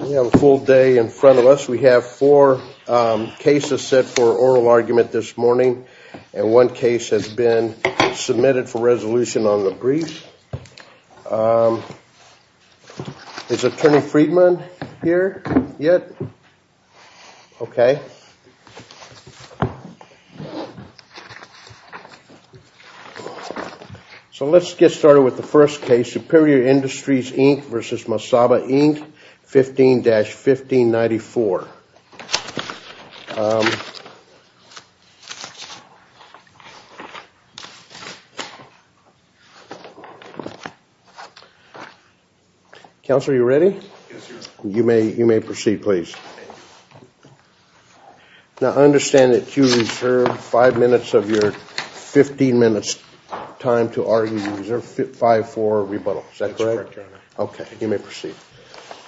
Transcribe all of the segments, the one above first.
We have a full day in front of us. We have four cases set for oral argument this morning and one case has been submitted for resolution on the brief. Is Attorney Friedman here yet? Okay. So let's get started with the first case, Superior Industries, Inc. v. Masaba, Inc. 15-1594. Counselor, are you ready? You may proceed, please. Now, I understand that you reserved five minutes of your 15-minute time to argue. You reserved 5-4 rebuttal. Is that correct? That's correct, Your Honor. Okay. You may proceed.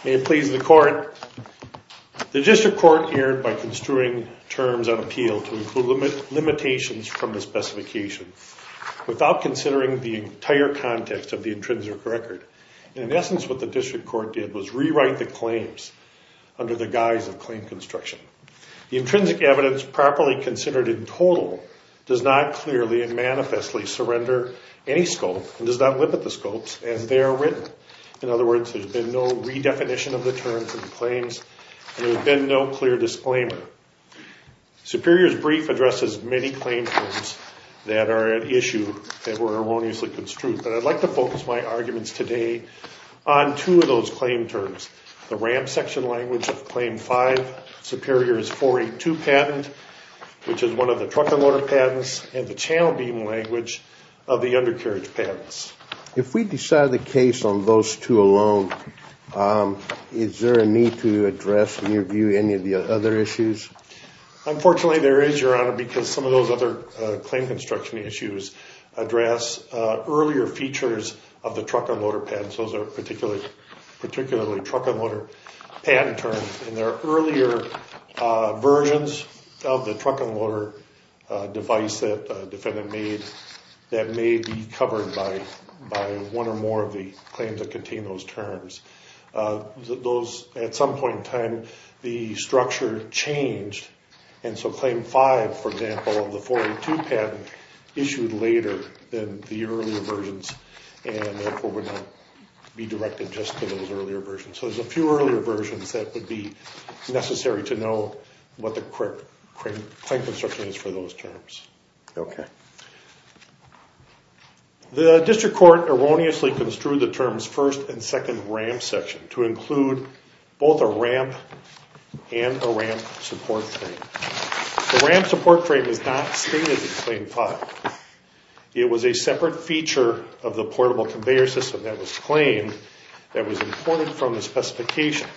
May it please the Court, the District Court erred by construing terms of appeal to include limitations from the specification without considering the entire context of the intrinsic record. In essence, what the District Court did was rewrite the claims under the guise of claim construction. The intrinsic evidence properly considered in total does not clearly and manifestly surrender any scope and does not limit the scopes as they are written. In other words, there's been no redefinition of the terms and claims and there's been no clear disclaimer. Superior's brief addresses many claim terms that are at issue that were erroneously construed, but I'd like to focus my arguments today on two of those claim terms, the RAM section language of Claim 5, Superior's 482 Patent, which is one of the truck and loader patents, and the channel beam language of the undercarriage patents. If we decide the case on those two alone, is there a need to address in your view any of the other issues? Unfortunately, there is, Your Honor, because some of those other claim construction issues address earlier features of the truck and loader patents, those are particularly truck and loader patent terms, and there are earlier versions of the truck and loader device that defendant made that may be covered by one or more of the claims that contain those terms. At some point in time, the structure changed, and so Claim 5, for example, of the 482 Patent issued later than the earlier versions, and therefore would not be directed just to those earlier versions, so there's a few earlier versions that would be necessary to know what the claim construction is for those terms. The District Court erroneously construed the terms 1st and 2nd RAM section to include both a RAM and a RAM support frame. The RAM support frame is not stated in Claim 5. It was a separate feature of the portable conveyor system that was claimed that was important from the specification.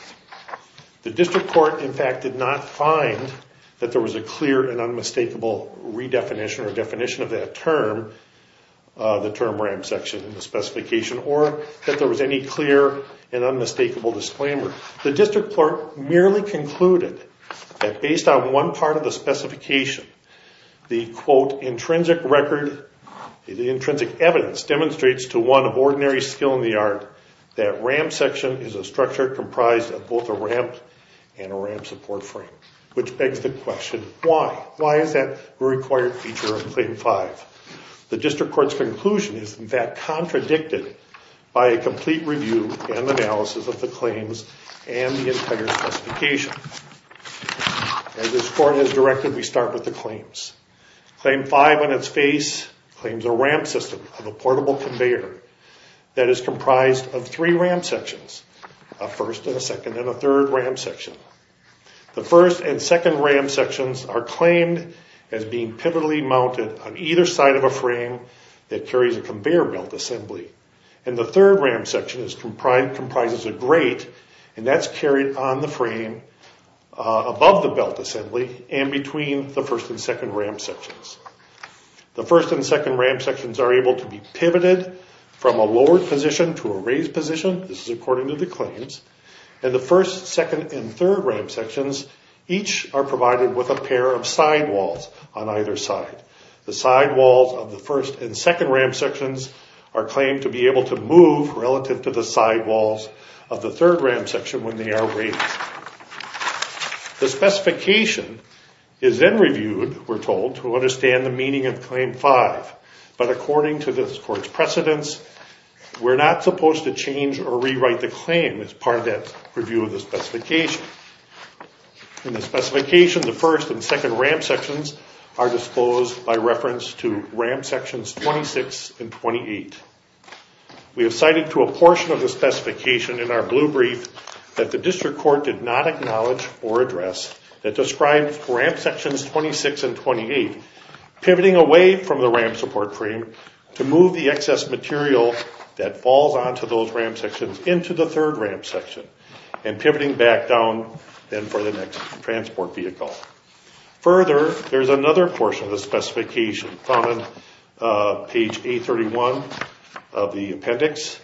The District Court, in fact, did not find that there was a clear and unmistakable redefinition or definition of that term, the term RAM section in the specification, or that there was any clear and unmistakable disclaimer. The District Court merely concluded that based on one part of the specification, the, quote, intrinsic record, the intrinsic evidence demonstrates to one of ordinary skill in the art that RAM section is a structure comprised of both a RAM and a RAM support frame, which begs the question, why? Why is that a required feature of Claim 5? The District Court's conclusion is, in fact, contradicted by a complete review and analysis of the claims and the entire specification. As the Court has directed, we start with the claims. Claim 5, on its face, claims a RAM system of a portable conveyor that is comprised of three RAM sections, a 1st and a 2nd and a 3rd RAM section. The 1st and 2nd RAM sections are claimed as being pivotally mounted on either side of a frame that carries a conveyor belt assembly. And the 3rd RAM section comprises a grate, and that's carried on the frame above the belt assembly and between the 1st and 2nd RAM sections. The 1st and 2nd RAM sections are able to be pivoted from a lowered position to a raised position, this is according to the claims, and the 1st, 2nd, and 3rd RAM sections each are provided with a pair of sidewalls on either side. The sidewalls of the 1st and 2nd RAM sections are claimed to be able to move relative to the sidewalls of the 3rd RAM section when they are raised. The specification is then reviewed, we're told, to understand the meaning of Claim 5, but according to this Court's precedence, we're not supposed to change or rewrite the claim as part of that review of the specification. In the specification, the 1st and 2nd RAM sections are disposed by reference to RAM sections 26 and 28. We have cited to a portion of the specification in our blue brief that the District Court did not acknowledge or address that describes RAM sections 26 and 28 pivoting away from the RAM support frame to move the excess material that falls onto those RAM sections into the RAM support frame and for the next transport vehicle. Further, there's another portion of the specification found on page 831 of the appendix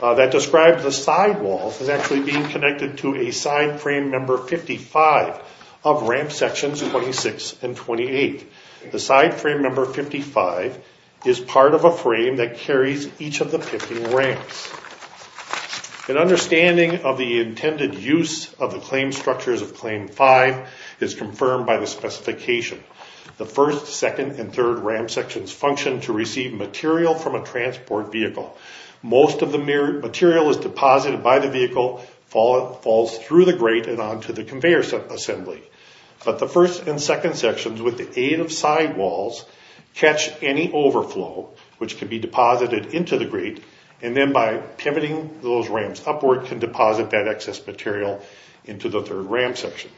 that describes the sidewalls as actually being connected to a side frame number 55 of RAM sections 26 and 28. The side frame number 55 is part of a frame that carries each of the pivoting RAMs. An understanding of the intended use of the claim structures of Claim 5 is confirmed by the specification. The 1st, 2nd, and 3rd RAM sections function to receive material from a transport vehicle. Most of the material is deposited by the vehicle, falls through the grate and onto the conveyor assembly, but the 1st and 2nd sections, with the aid of sidewalls, catch any overflow which can be deposited into the grate and then by pivoting those RAMs upward can deposit that excess material into the 3rd RAM section.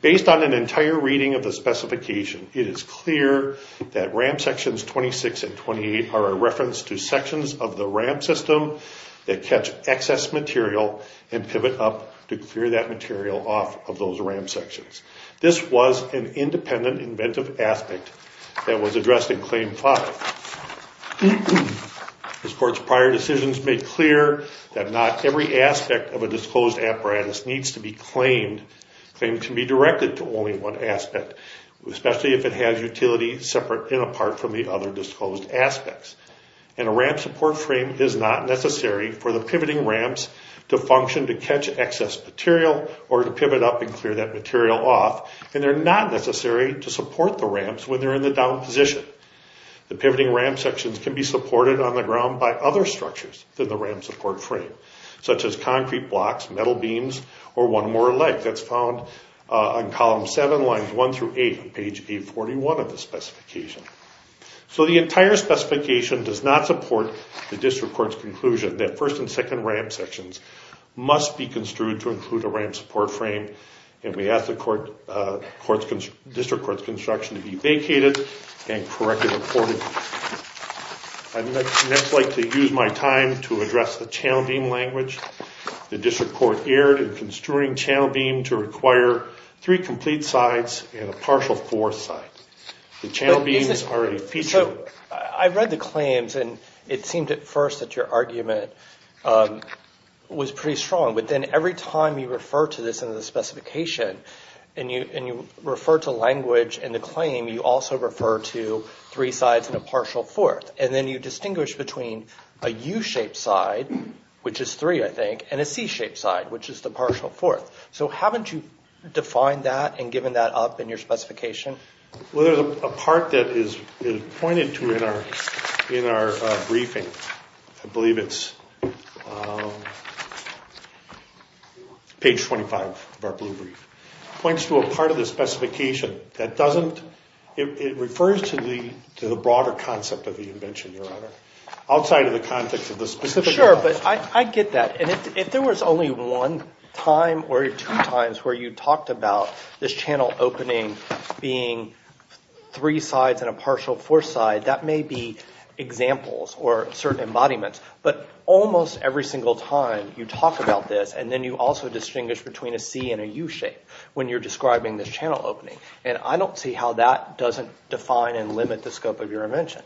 Based on an entire reading of the specification, it is clear that RAM sections 26 and 28 are a reference to sections of the RAM system that catch excess material and pivot up to clear that material off of those RAM sections. This was an independent inventive aspect that was addressed in Claim 5. This Court's prior decisions made clear that not every aspect of a disclosed apparatus needs to be claimed to be directed to only one aspect, especially if it has utility separate and apart from the other disclosed aspects. And a RAM support frame is not necessary for the pivoting RAMs to function to catch excess material or to pivot up and clear that material off, and they're not necessary to support the RAMs when they're in the down position. The pivoting RAM sections can be supported on the ground by other structures than the RAM support frame, such as concrete blocks, metal beams, or one more leg that's found on column 7, lines 1 through 8 on page 841 of the specification. So the entire specification does not support the District Court's conclusion that 1st and 2nd RAM sections must be construed to include a RAM support frame, and we ask the District Court's construction to be vacated and corrected accordingly. I'd next like to use my time to address the channel beam language. The District Court erred in construing channel beam to require three complete sides and a partial fourth side. The channel beams are a feature of— was pretty strong, but then every time you refer to this in the specification and you refer to language in the claim, you also refer to three sides and a partial fourth, and then you distinguish between a U-shaped side, which is 3, I think, and a C-shaped side, which is the partial fourth. So haven't you defined that and given that up in your specification? Well, there's a part that is pointed to in our briefing. I believe it's page 25 of our blue brief. It points to a part of the specification that doesn't—it refers to the broader concept of the invention, Your Honor, outside of the context of the specific— Sure, but I get that, and if there was only one time or two times where you talked about this channel opening being three sides and a partial fourth side, that may be examples or certain embodiments, but almost every single time you talk about this and then you also distinguish between a C and a U-shape when you're describing this channel opening, and I don't see how that doesn't define and limit the scope of your invention.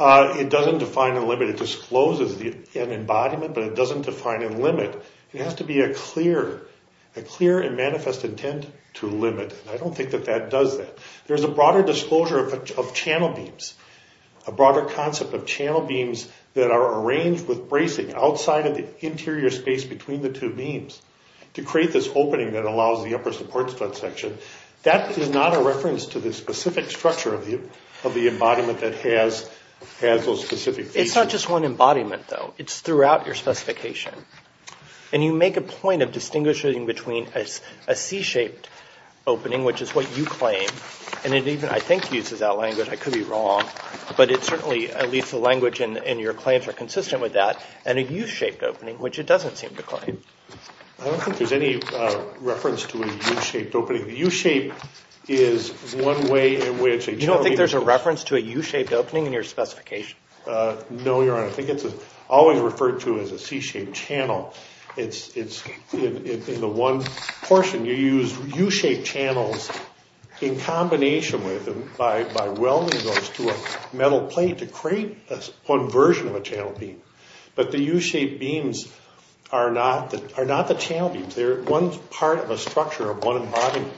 It doesn't define and limit. It discloses an embodiment, but it doesn't define and limit. It has to be a clear and manifest intent to limit, and I don't think that that does that. There's a broader disclosure of channel beams, a broader concept of channel beams that are arranged with bracing outside of the interior space between the two beams to create this opening that allows the upper support strut section. That is not a reference to the specific structure of the embodiment that has those specific features. It's not just one embodiment, though. It's throughout your specification, and you make a point of distinguishing between a C-shaped opening, which is what you claim, and it even, I think, uses that language. I could be wrong, but it certainly, at least the language in your claims are consistent with that, and a U-shaped opening, which it doesn't seem to claim. I don't think there's any reference to a U-shaped opening. The U-shape is one way in which a channel beam is— You don't think there's a reference to a U-shaped opening in your specification? No, Your Honor. I think it's always referred to as a C-shaped channel. It's in the one portion. You use U-shaped channels in combination with, by welding those to a metal plate to create one version of a channel beam, but the U-shaped beams are not the channel beams. They're one part of a structure of one embodiment,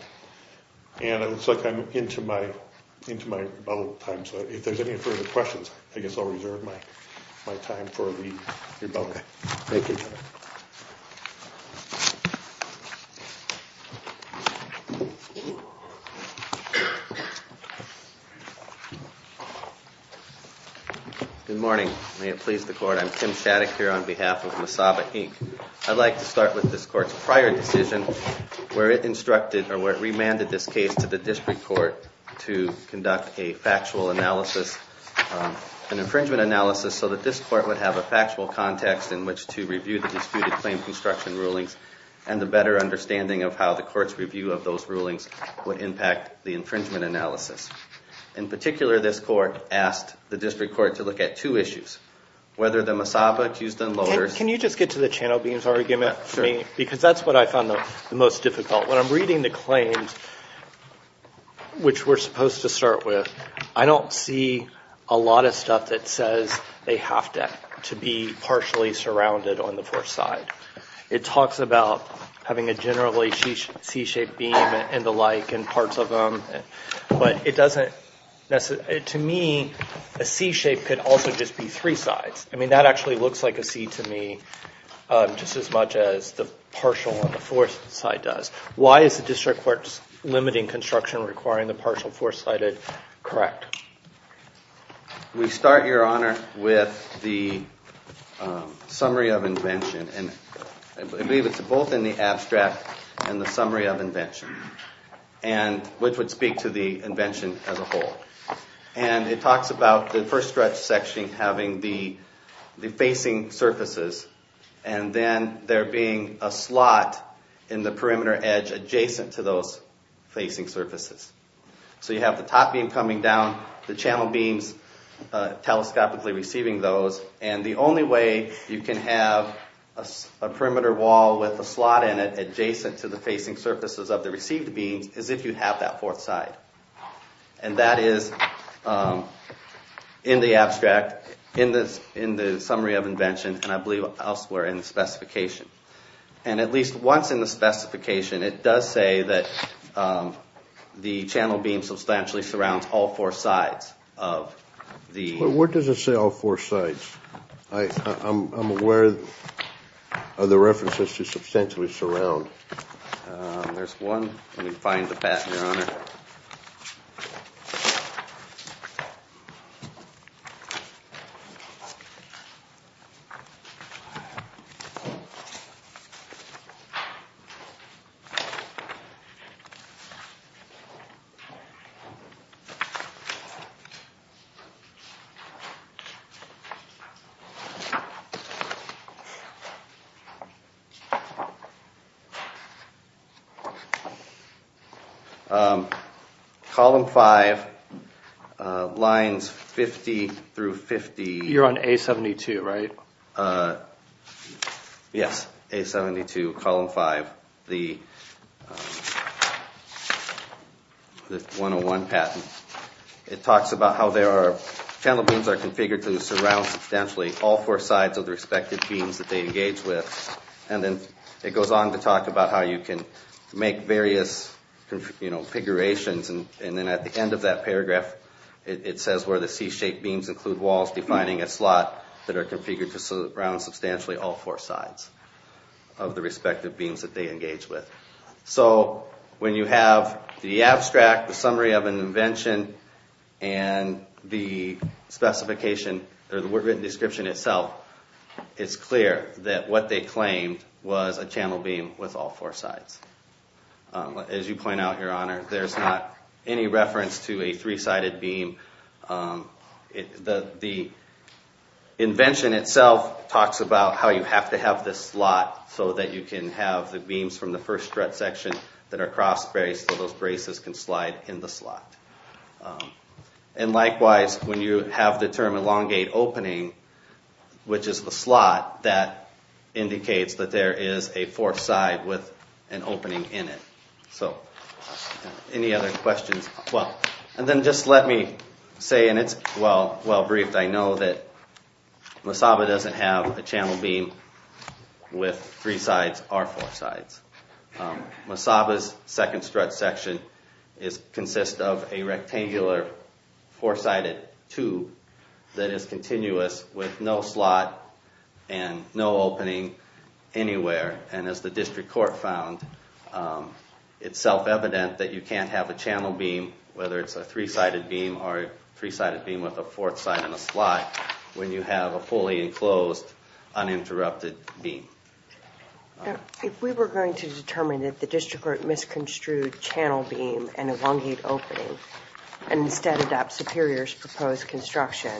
and it looks like I'm into my bubble time, so if there's any further questions, I guess I'll reserve my time for the rebuttal. Thank you, Your Honor. Good morning. May it please the Court. I'm Kim Shattuck here on behalf of Masaba, Inc. I'd like to start with this Court's prior decision where it instructed, or where it an infringement analysis so that this Court would have a factual context in which to review the disputed claim construction rulings and a better understanding of how the Court's review of those rulings would impact the infringement analysis. In particular, this Court asked the District Court to look at two issues, whether the Masaba accused unloaders— Can you just get to the channel beams argument for me? Sure. Because that's what I found the most difficult. When I'm reading the claims, which we're supposed to start with, I don't see a lot of stuff that says they have to be partially surrounded on the fourth side. It talks about having a generally C-shaped beam and the like, and parts of them, but it doesn't—to me, a C-shape could also just be three sides. I mean, that actually looks like a C to me, just as much as the partial on the fourth side does. Why is the District Court limiting construction requiring the partial fourth-sided? We start, Your Honor, with the summary of invention, and I believe it's both in the abstract and the summary of invention, which would speak to the invention as a whole. It talks about the first stretch section having the facing surfaces, and then there being a slot in the perimeter edge adjacent to those facing surfaces. So you have the top beam coming down, the channel beams telescopically receiving those, and the only way you can have a perimeter wall with a slot in it adjacent to the facing surfaces of the received beams is if you have that fourth side. And that is in the abstract, in the summary of invention, and I believe elsewhere in the specification. And at least once in the specification, it does say that the channel beam substantially surrounds all four sides of the— But where does it say all four sides? I'm aware of the references to substantially surround. There's one. Let me find the patent, Your Honor. Column 5, lines 50 through 50. You're on A72, right? Yes, A72, column 5, the 101 patent. It talks about how there are—channel beams are configured to surround substantially all four sides of the respective beams that they engage with. And then it goes on to talk about how you can make various configurations. And then at the end of that paragraph, it says where the C-shaped beams include walls defining a slot that are configured to surround substantially all four sides of the respective beams that they engage with. So when you have the abstract, the summary of an invention, and the specification, or the written description itself, it's clear that what they claimed was a channel beam with all four sides. As you point out, Your Honor, there's not any reference to a three-sided beam. The invention itself talks about how you have to have this slot so that you can have the beams from the first strut section that are cross-braced so those braces can slide in the slot. And likewise, when you have the term elongate opening, which is the slot that indicates that there is a fourth side with an opening in it. So any other questions? And then just let me say, and it's well briefed, I know that Masaba doesn't have a channel beam with three sides or four sides. Masaba's second strut section consists of a rectangular four-sided tube that is continuous with no slot and no opening anywhere. And as the district court found, it's self-evident that you can't have a channel beam, whether it's a three-sided beam or a three-sided beam with a fourth side and a slot, when you have a fully enclosed, uninterrupted beam. If we were going to determine that the district court misconstrued channel beam and elongate opening and instead adopt Superior's proposed construction,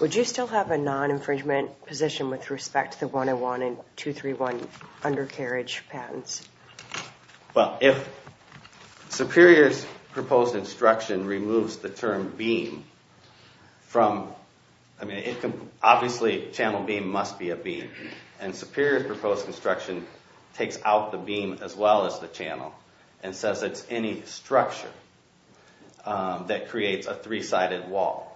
would you still have a non-infringement position with respect to the 101 and 231 undercarriage patents? Well, if Superior's proposed instruction removes the term beam from... Obviously, channel beam must be a beam. And Superior's proposed construction takes out the beam as well as the channel and says it's any structure that creates a three-sided wall.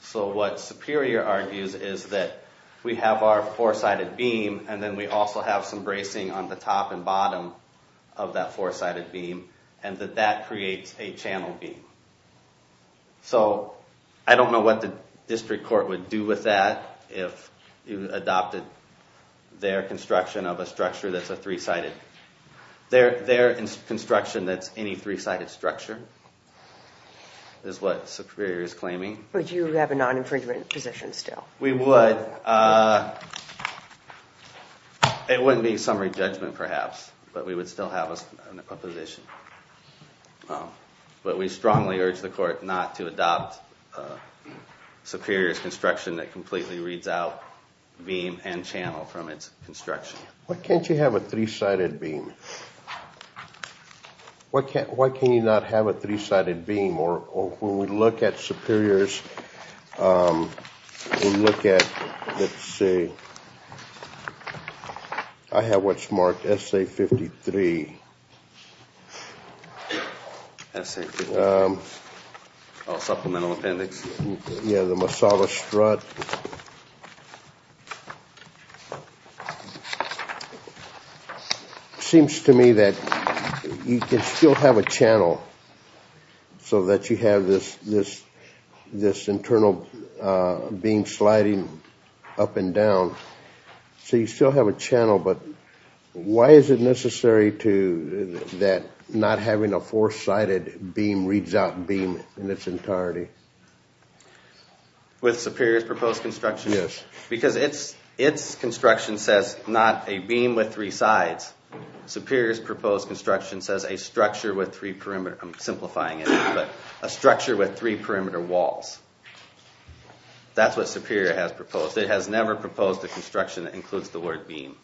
So what Superior argues is that we have our four-sided beam and then we also have some bracing on the top and bottom of that four-sided beam and that that creates a channel beam. So I don't know what the district court would do with that if you adopted their construction of a structure that's a three-sided... Their construction that's any three-sided structure is what Superior is claiming. Would you have a non-infringement position still? We would. It wouldn't be summary judgment, perhaps, but we would still have a position. But we strongly urge the court not to adopt Superior's construction that completely reads out beam and channel from its construction. Why can't you have a three-sided beam? Why can you not have a three-sided beam? Or when we look at Superior's, we look at... Let's see. I have what's marked SA-53. Supplemental appendix. Yeah, the Masada strut. Seems to me that you can still have a channel so that you have this internal beam sliding up and down. So you still have a channel, but why is it necessary that not having a four-sided beam reads out beam in its entirety? With Superior's proposed construction? Yes. Because its construction says not a beam with three sides. Superior's proposed construction says a structure with three perimeter... I'm simplifying it, but a structure with three perimeter walls. That's what Superior has proposed. It has never proposed a construction that includes the word beam.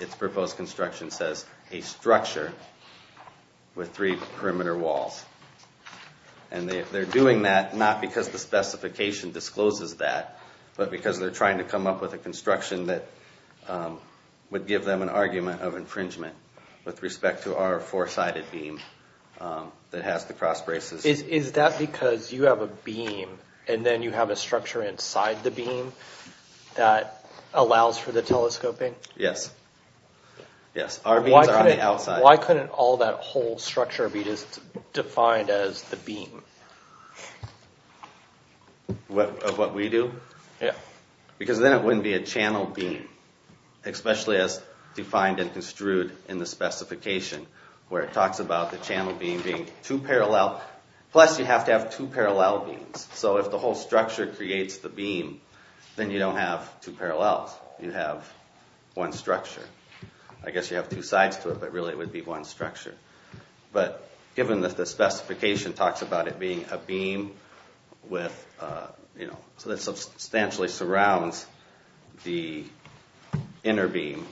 Its proposed construction says a structure with three perimeter walls. And they're doing that not because the specification discloses that, but because they're trying to come up with a construction that would give them an argument of infringement with respect to our four-sided beam that has the cross braces. Is that because you have a beam and then you have a structure inside the beam that allows for the telescoping? Yes. Our beams are on the outside. Why couldn't all that whole structure be just defined as the beam? Of what we do? Yeah. Because then it wouldn't be a channel beam, especially as defined and construed in the specification where it talks about the channel beam being two parallel. Plus you have to have two parallel beams. So if the whole structure creates the beam, then you don't have two parallels. You have one structure. I guess you have two sides to it, but really it would be one structure. But given that the specification talks about it being a beam that substantially surrounds the inner beam,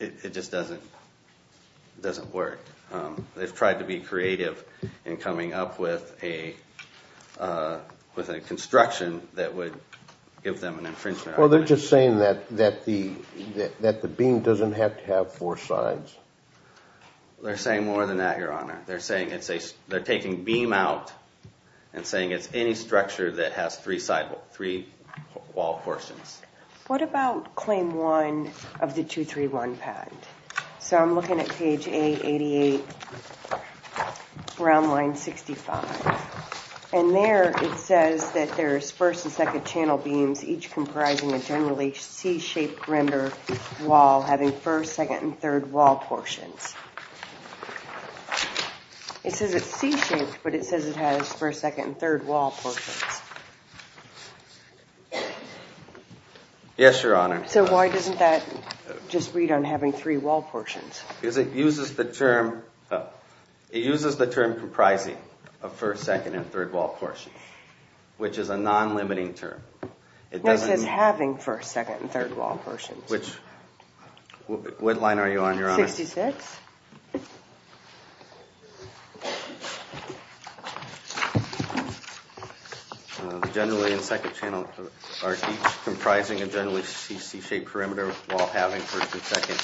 it just doesn't work. They've tried to be creative in coming up with a construction that would give them an infringement argument. Well, they're just saying that the beam doesn't have to have four sides. They're saying more than that, Your Honor. They're saying they're taking beam out and saying it's any structure that has three wall portions. What about claim one of the 231 patent? So I'm looking at page 888, brown line 65. And there it says that there's first and second channel beams, each comprising a generally C-shaped rimmed wall having first, second, and third wall portions. It says it's C-shaped, but it says it has first, second, and third wall portions. Yes, Your Honor. So why doesn't that just read on having three wall portions? Because it uses the term comprising of first, second, and third wall portions, which is a non-limiting term. It says having first, second, and third wall portions. Which line are you on, Your Honor? 66. Generally in second channel are each comprising a generally C-shaped perimeter while having first and second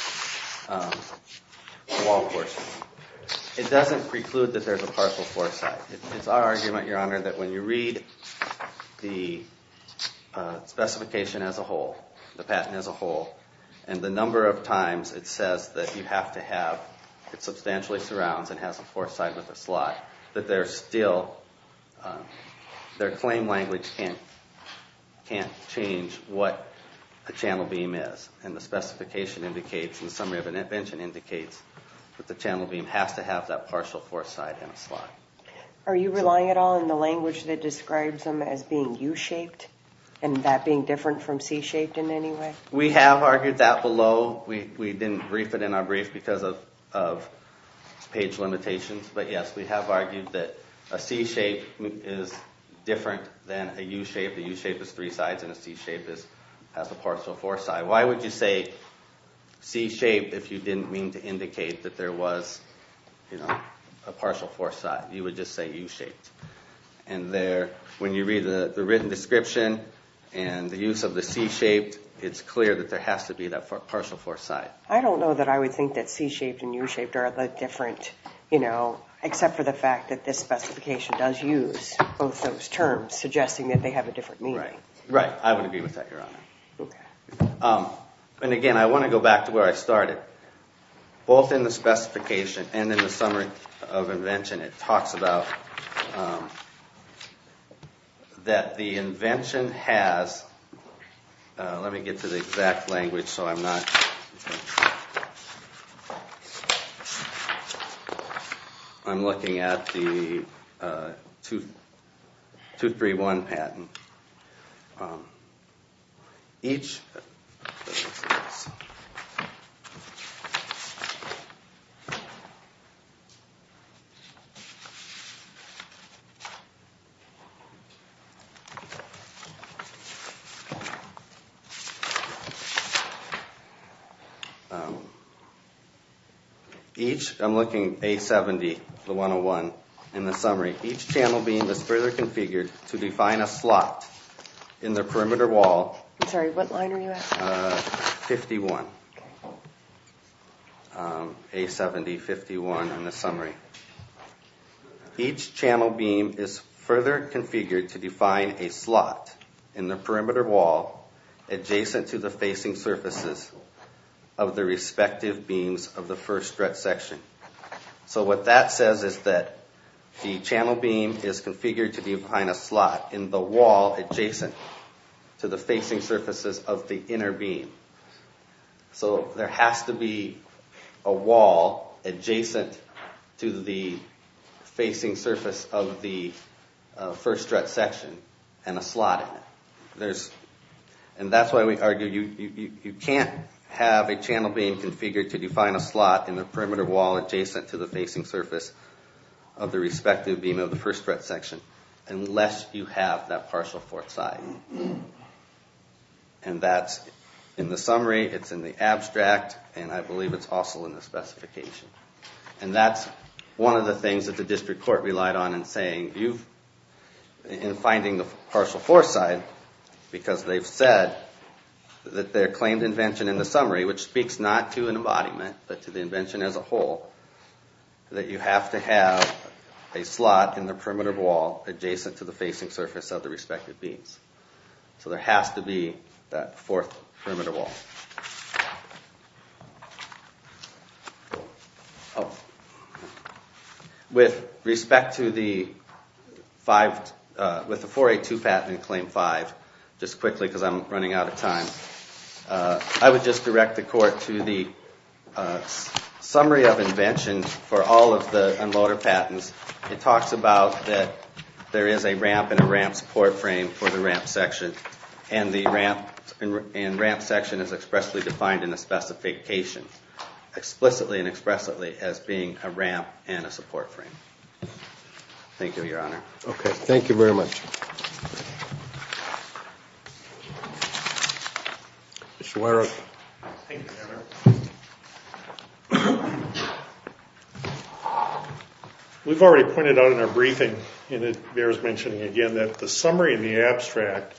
wall portions. It doesn't preclude that there's a partial fourth side. It's our argument, Your Honor, that when you read the specification as a whole, the patent as a whole, and the number of times it says that you have to have, it substantially surrounds and has a fourth side with a slot, that their claim language can't change what the channel beam is. And the specification indicates, in the summary of an invention, indicates that the channel beam has to have that partial fourth side and a slot. Are you relying at all on the language that describes them as being U-shaped and that being different from C-shaped in any way? We have argued that below. We didn't brief it in our brief because of page limitations. But yes, we have argued that a C-shape is different than a U-shape. A U-shape has three sides and a C-shape has a partial fourth side. Why would you say C-shape if you didn't mean to indicate that there was a partial fourth side? You would just say U-shaped. And when you read the written description and the use of the C-shaped, it's clear that there has to be that partial fourth side. I don't know that I would think that C-shaped and U-shaped are the different, except for the fact that this specification does use both those terms, suggesting that they have a different meaning. Right. I would agree with that, Your Honor. And again, I want to go back to where I started. Both in the specification and in the summary of invention, it talks about that the invention has— let me get to the exact language so I'm not— I'm looking at the 231 patent. Each— Each—I'm looking at A-70, the 101 in the summary. Each channel beam is further configured to define a slot in the perimeter wall— I'm sorry, what line are you at? 51. A-70, 51 in the summary. Each channel beam is further configured to define a slot in the perimeter wall adjacent to the facing surfaces of the respective beams of the first stretch section. So what that says is that the channel beam is configured to define a slot in the wall adjacent to the facing surfaces of the inner beam. So there has to be a wall adjacent to the facing surface of the first stretch section and a slot in it. There's—and that's why we argue you can't have a channel beam configured to define a slot in the perimeter wall adjacent to the facing surface of the respective beam of the first stretch section unless you have that partial fourth side. And that's in the summary, it's in the abstract, and I believe it's also in the specification. And that's one of the things that the district court relied on in saying you've— in finding the partial fourth side because they've said that their claimed invention and in the summary, which speaks not to an embodiment but to the invention as a whole, that you have to have a slot in the perimeter wall adjacent to the facing surface of the respective beams. So there has to be that fourth perimeter wall. With respect to the 5—with the 482 patent in Claim 5, just quickly because I'm running out of time, I would just direct the court to the summary of invention for all of the unloader patents. It talks about that there is a ramp and a ramp support frame for the ramp section and the ramp section is expressly defined in the specification, explicitly and expressly, as being a ramp and a support frame. Thank you, Your Honor. Okay, thank you very much. Mr. Weirich. Thank you, Your Honor. We've already pointed out in our briefing, and it bears mentioning again, that the summary and the abstract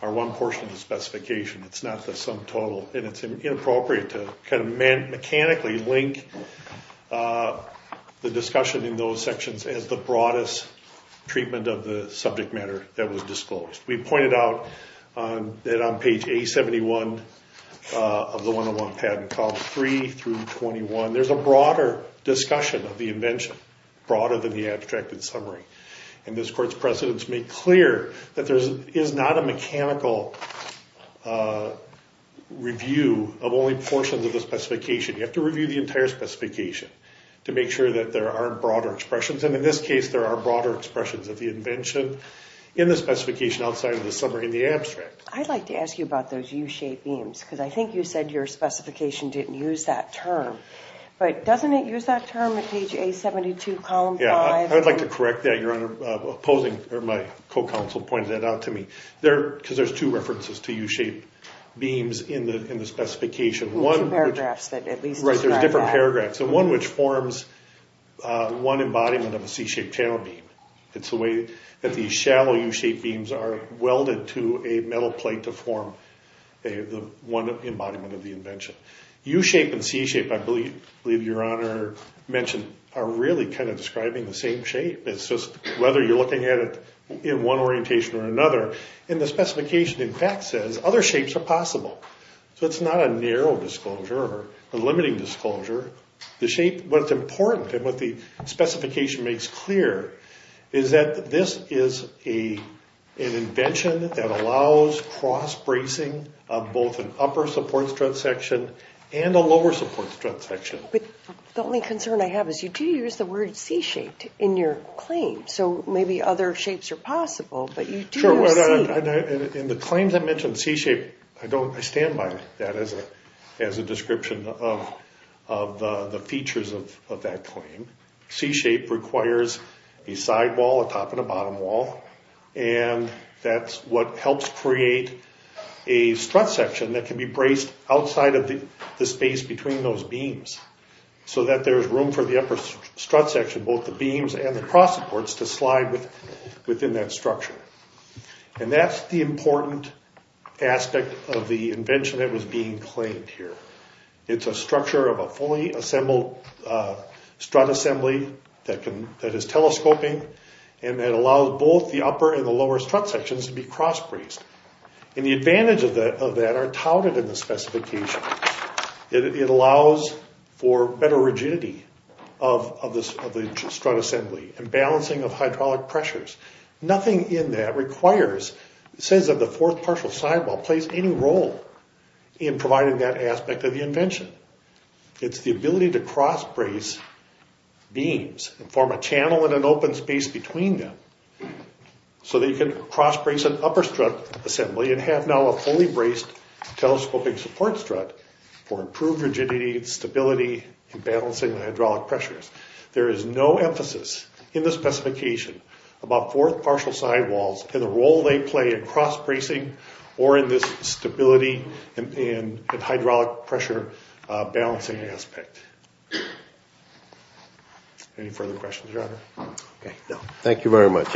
are one portion of the specification. It's not the sum total, and it's inappropriate to kind of mechanically link the discussion in those sections as the broadest treatment of the subject matter that was disclosed. We pointed out that on page A71 of the 101 patent, columns 3 through 21, there's a broader discussion of the invention, broader than the abstracted summary. And this court's precedents make clear that there is not a mechanical review of only portions of the specification. You have to review the entire specification to make sure that there aren't broader expressions, and in this case there are broader expressions of the invention in the specification outside of the summary and the abstract. I'd like to ask you about those U-shaped beams, because I think you said your specification didn't use that term. But doesn't it use that term at page A72, column 5? Yeah, I would like to correct that, Your Honor. Opposing, or my co-counsel pointed that out to me. Because there's two references to U-shaped beams in the specification. Two paragraphs that at least describe that. Right, there's different paragraphs, and one which forms one embodiment of a C-shaped channel beam. It's the way that these shallow U-shaped beams are welded to a metal plate to form one embodiment of the invention. U-shape and C-shape, I believe Your Honor mentioned, are really kind of describing the same shape. It's just whether you're looking at it in one orientation or another. And the specification, in fact, says other shapes are possible. So it's not a narrow disclosure or a limiting disclosure. The shape, what's important, and what the specification makes clear, is that this is an invention that allows cross-bracing of both an upper support strut section and a lower support strut section. But the only concern I have is you do use the word C-shaped in your claim. So maybe other shapes are possible, but you do use C. In the claims I mentioned, C-shape, I stand by that as a description of the features of that claim. C-shape requires a sidewall, a top and a bottom wall, and that's what helps create a strut section that can be braced outside of the space between those beams so that there's room for the upper strut section, both the beams and the cross supports, to slide within that structure. And that's the important aspect of the invention that was being claimed here. It's a structure of a fully assembled strut assembly that is telescoping, and that allows both the upper and the lower strut sections to be cross-braced. And the advantages of that are touted in the specification. It allows for better rigidity of the strut assembly and balancing of hydraulic pressures. Nothing in that says that the fourth partial sidewall plays any role in providing that aspect of the invention. It's the ability to cross-brace beams and form a channel and an open space between them so that you can cross-brace an upper strut assembly and have now a fully braced telescoping support strut for improved rigidity and stability in balancing the hydraulic pressures. There is no emphasis in the specification about fourth partial sidewalls and the role they play in cross-bracing or in this stability and hydraulic pressure balancing aspect. Any further questions, Your Honor? Okay. Thank you very much.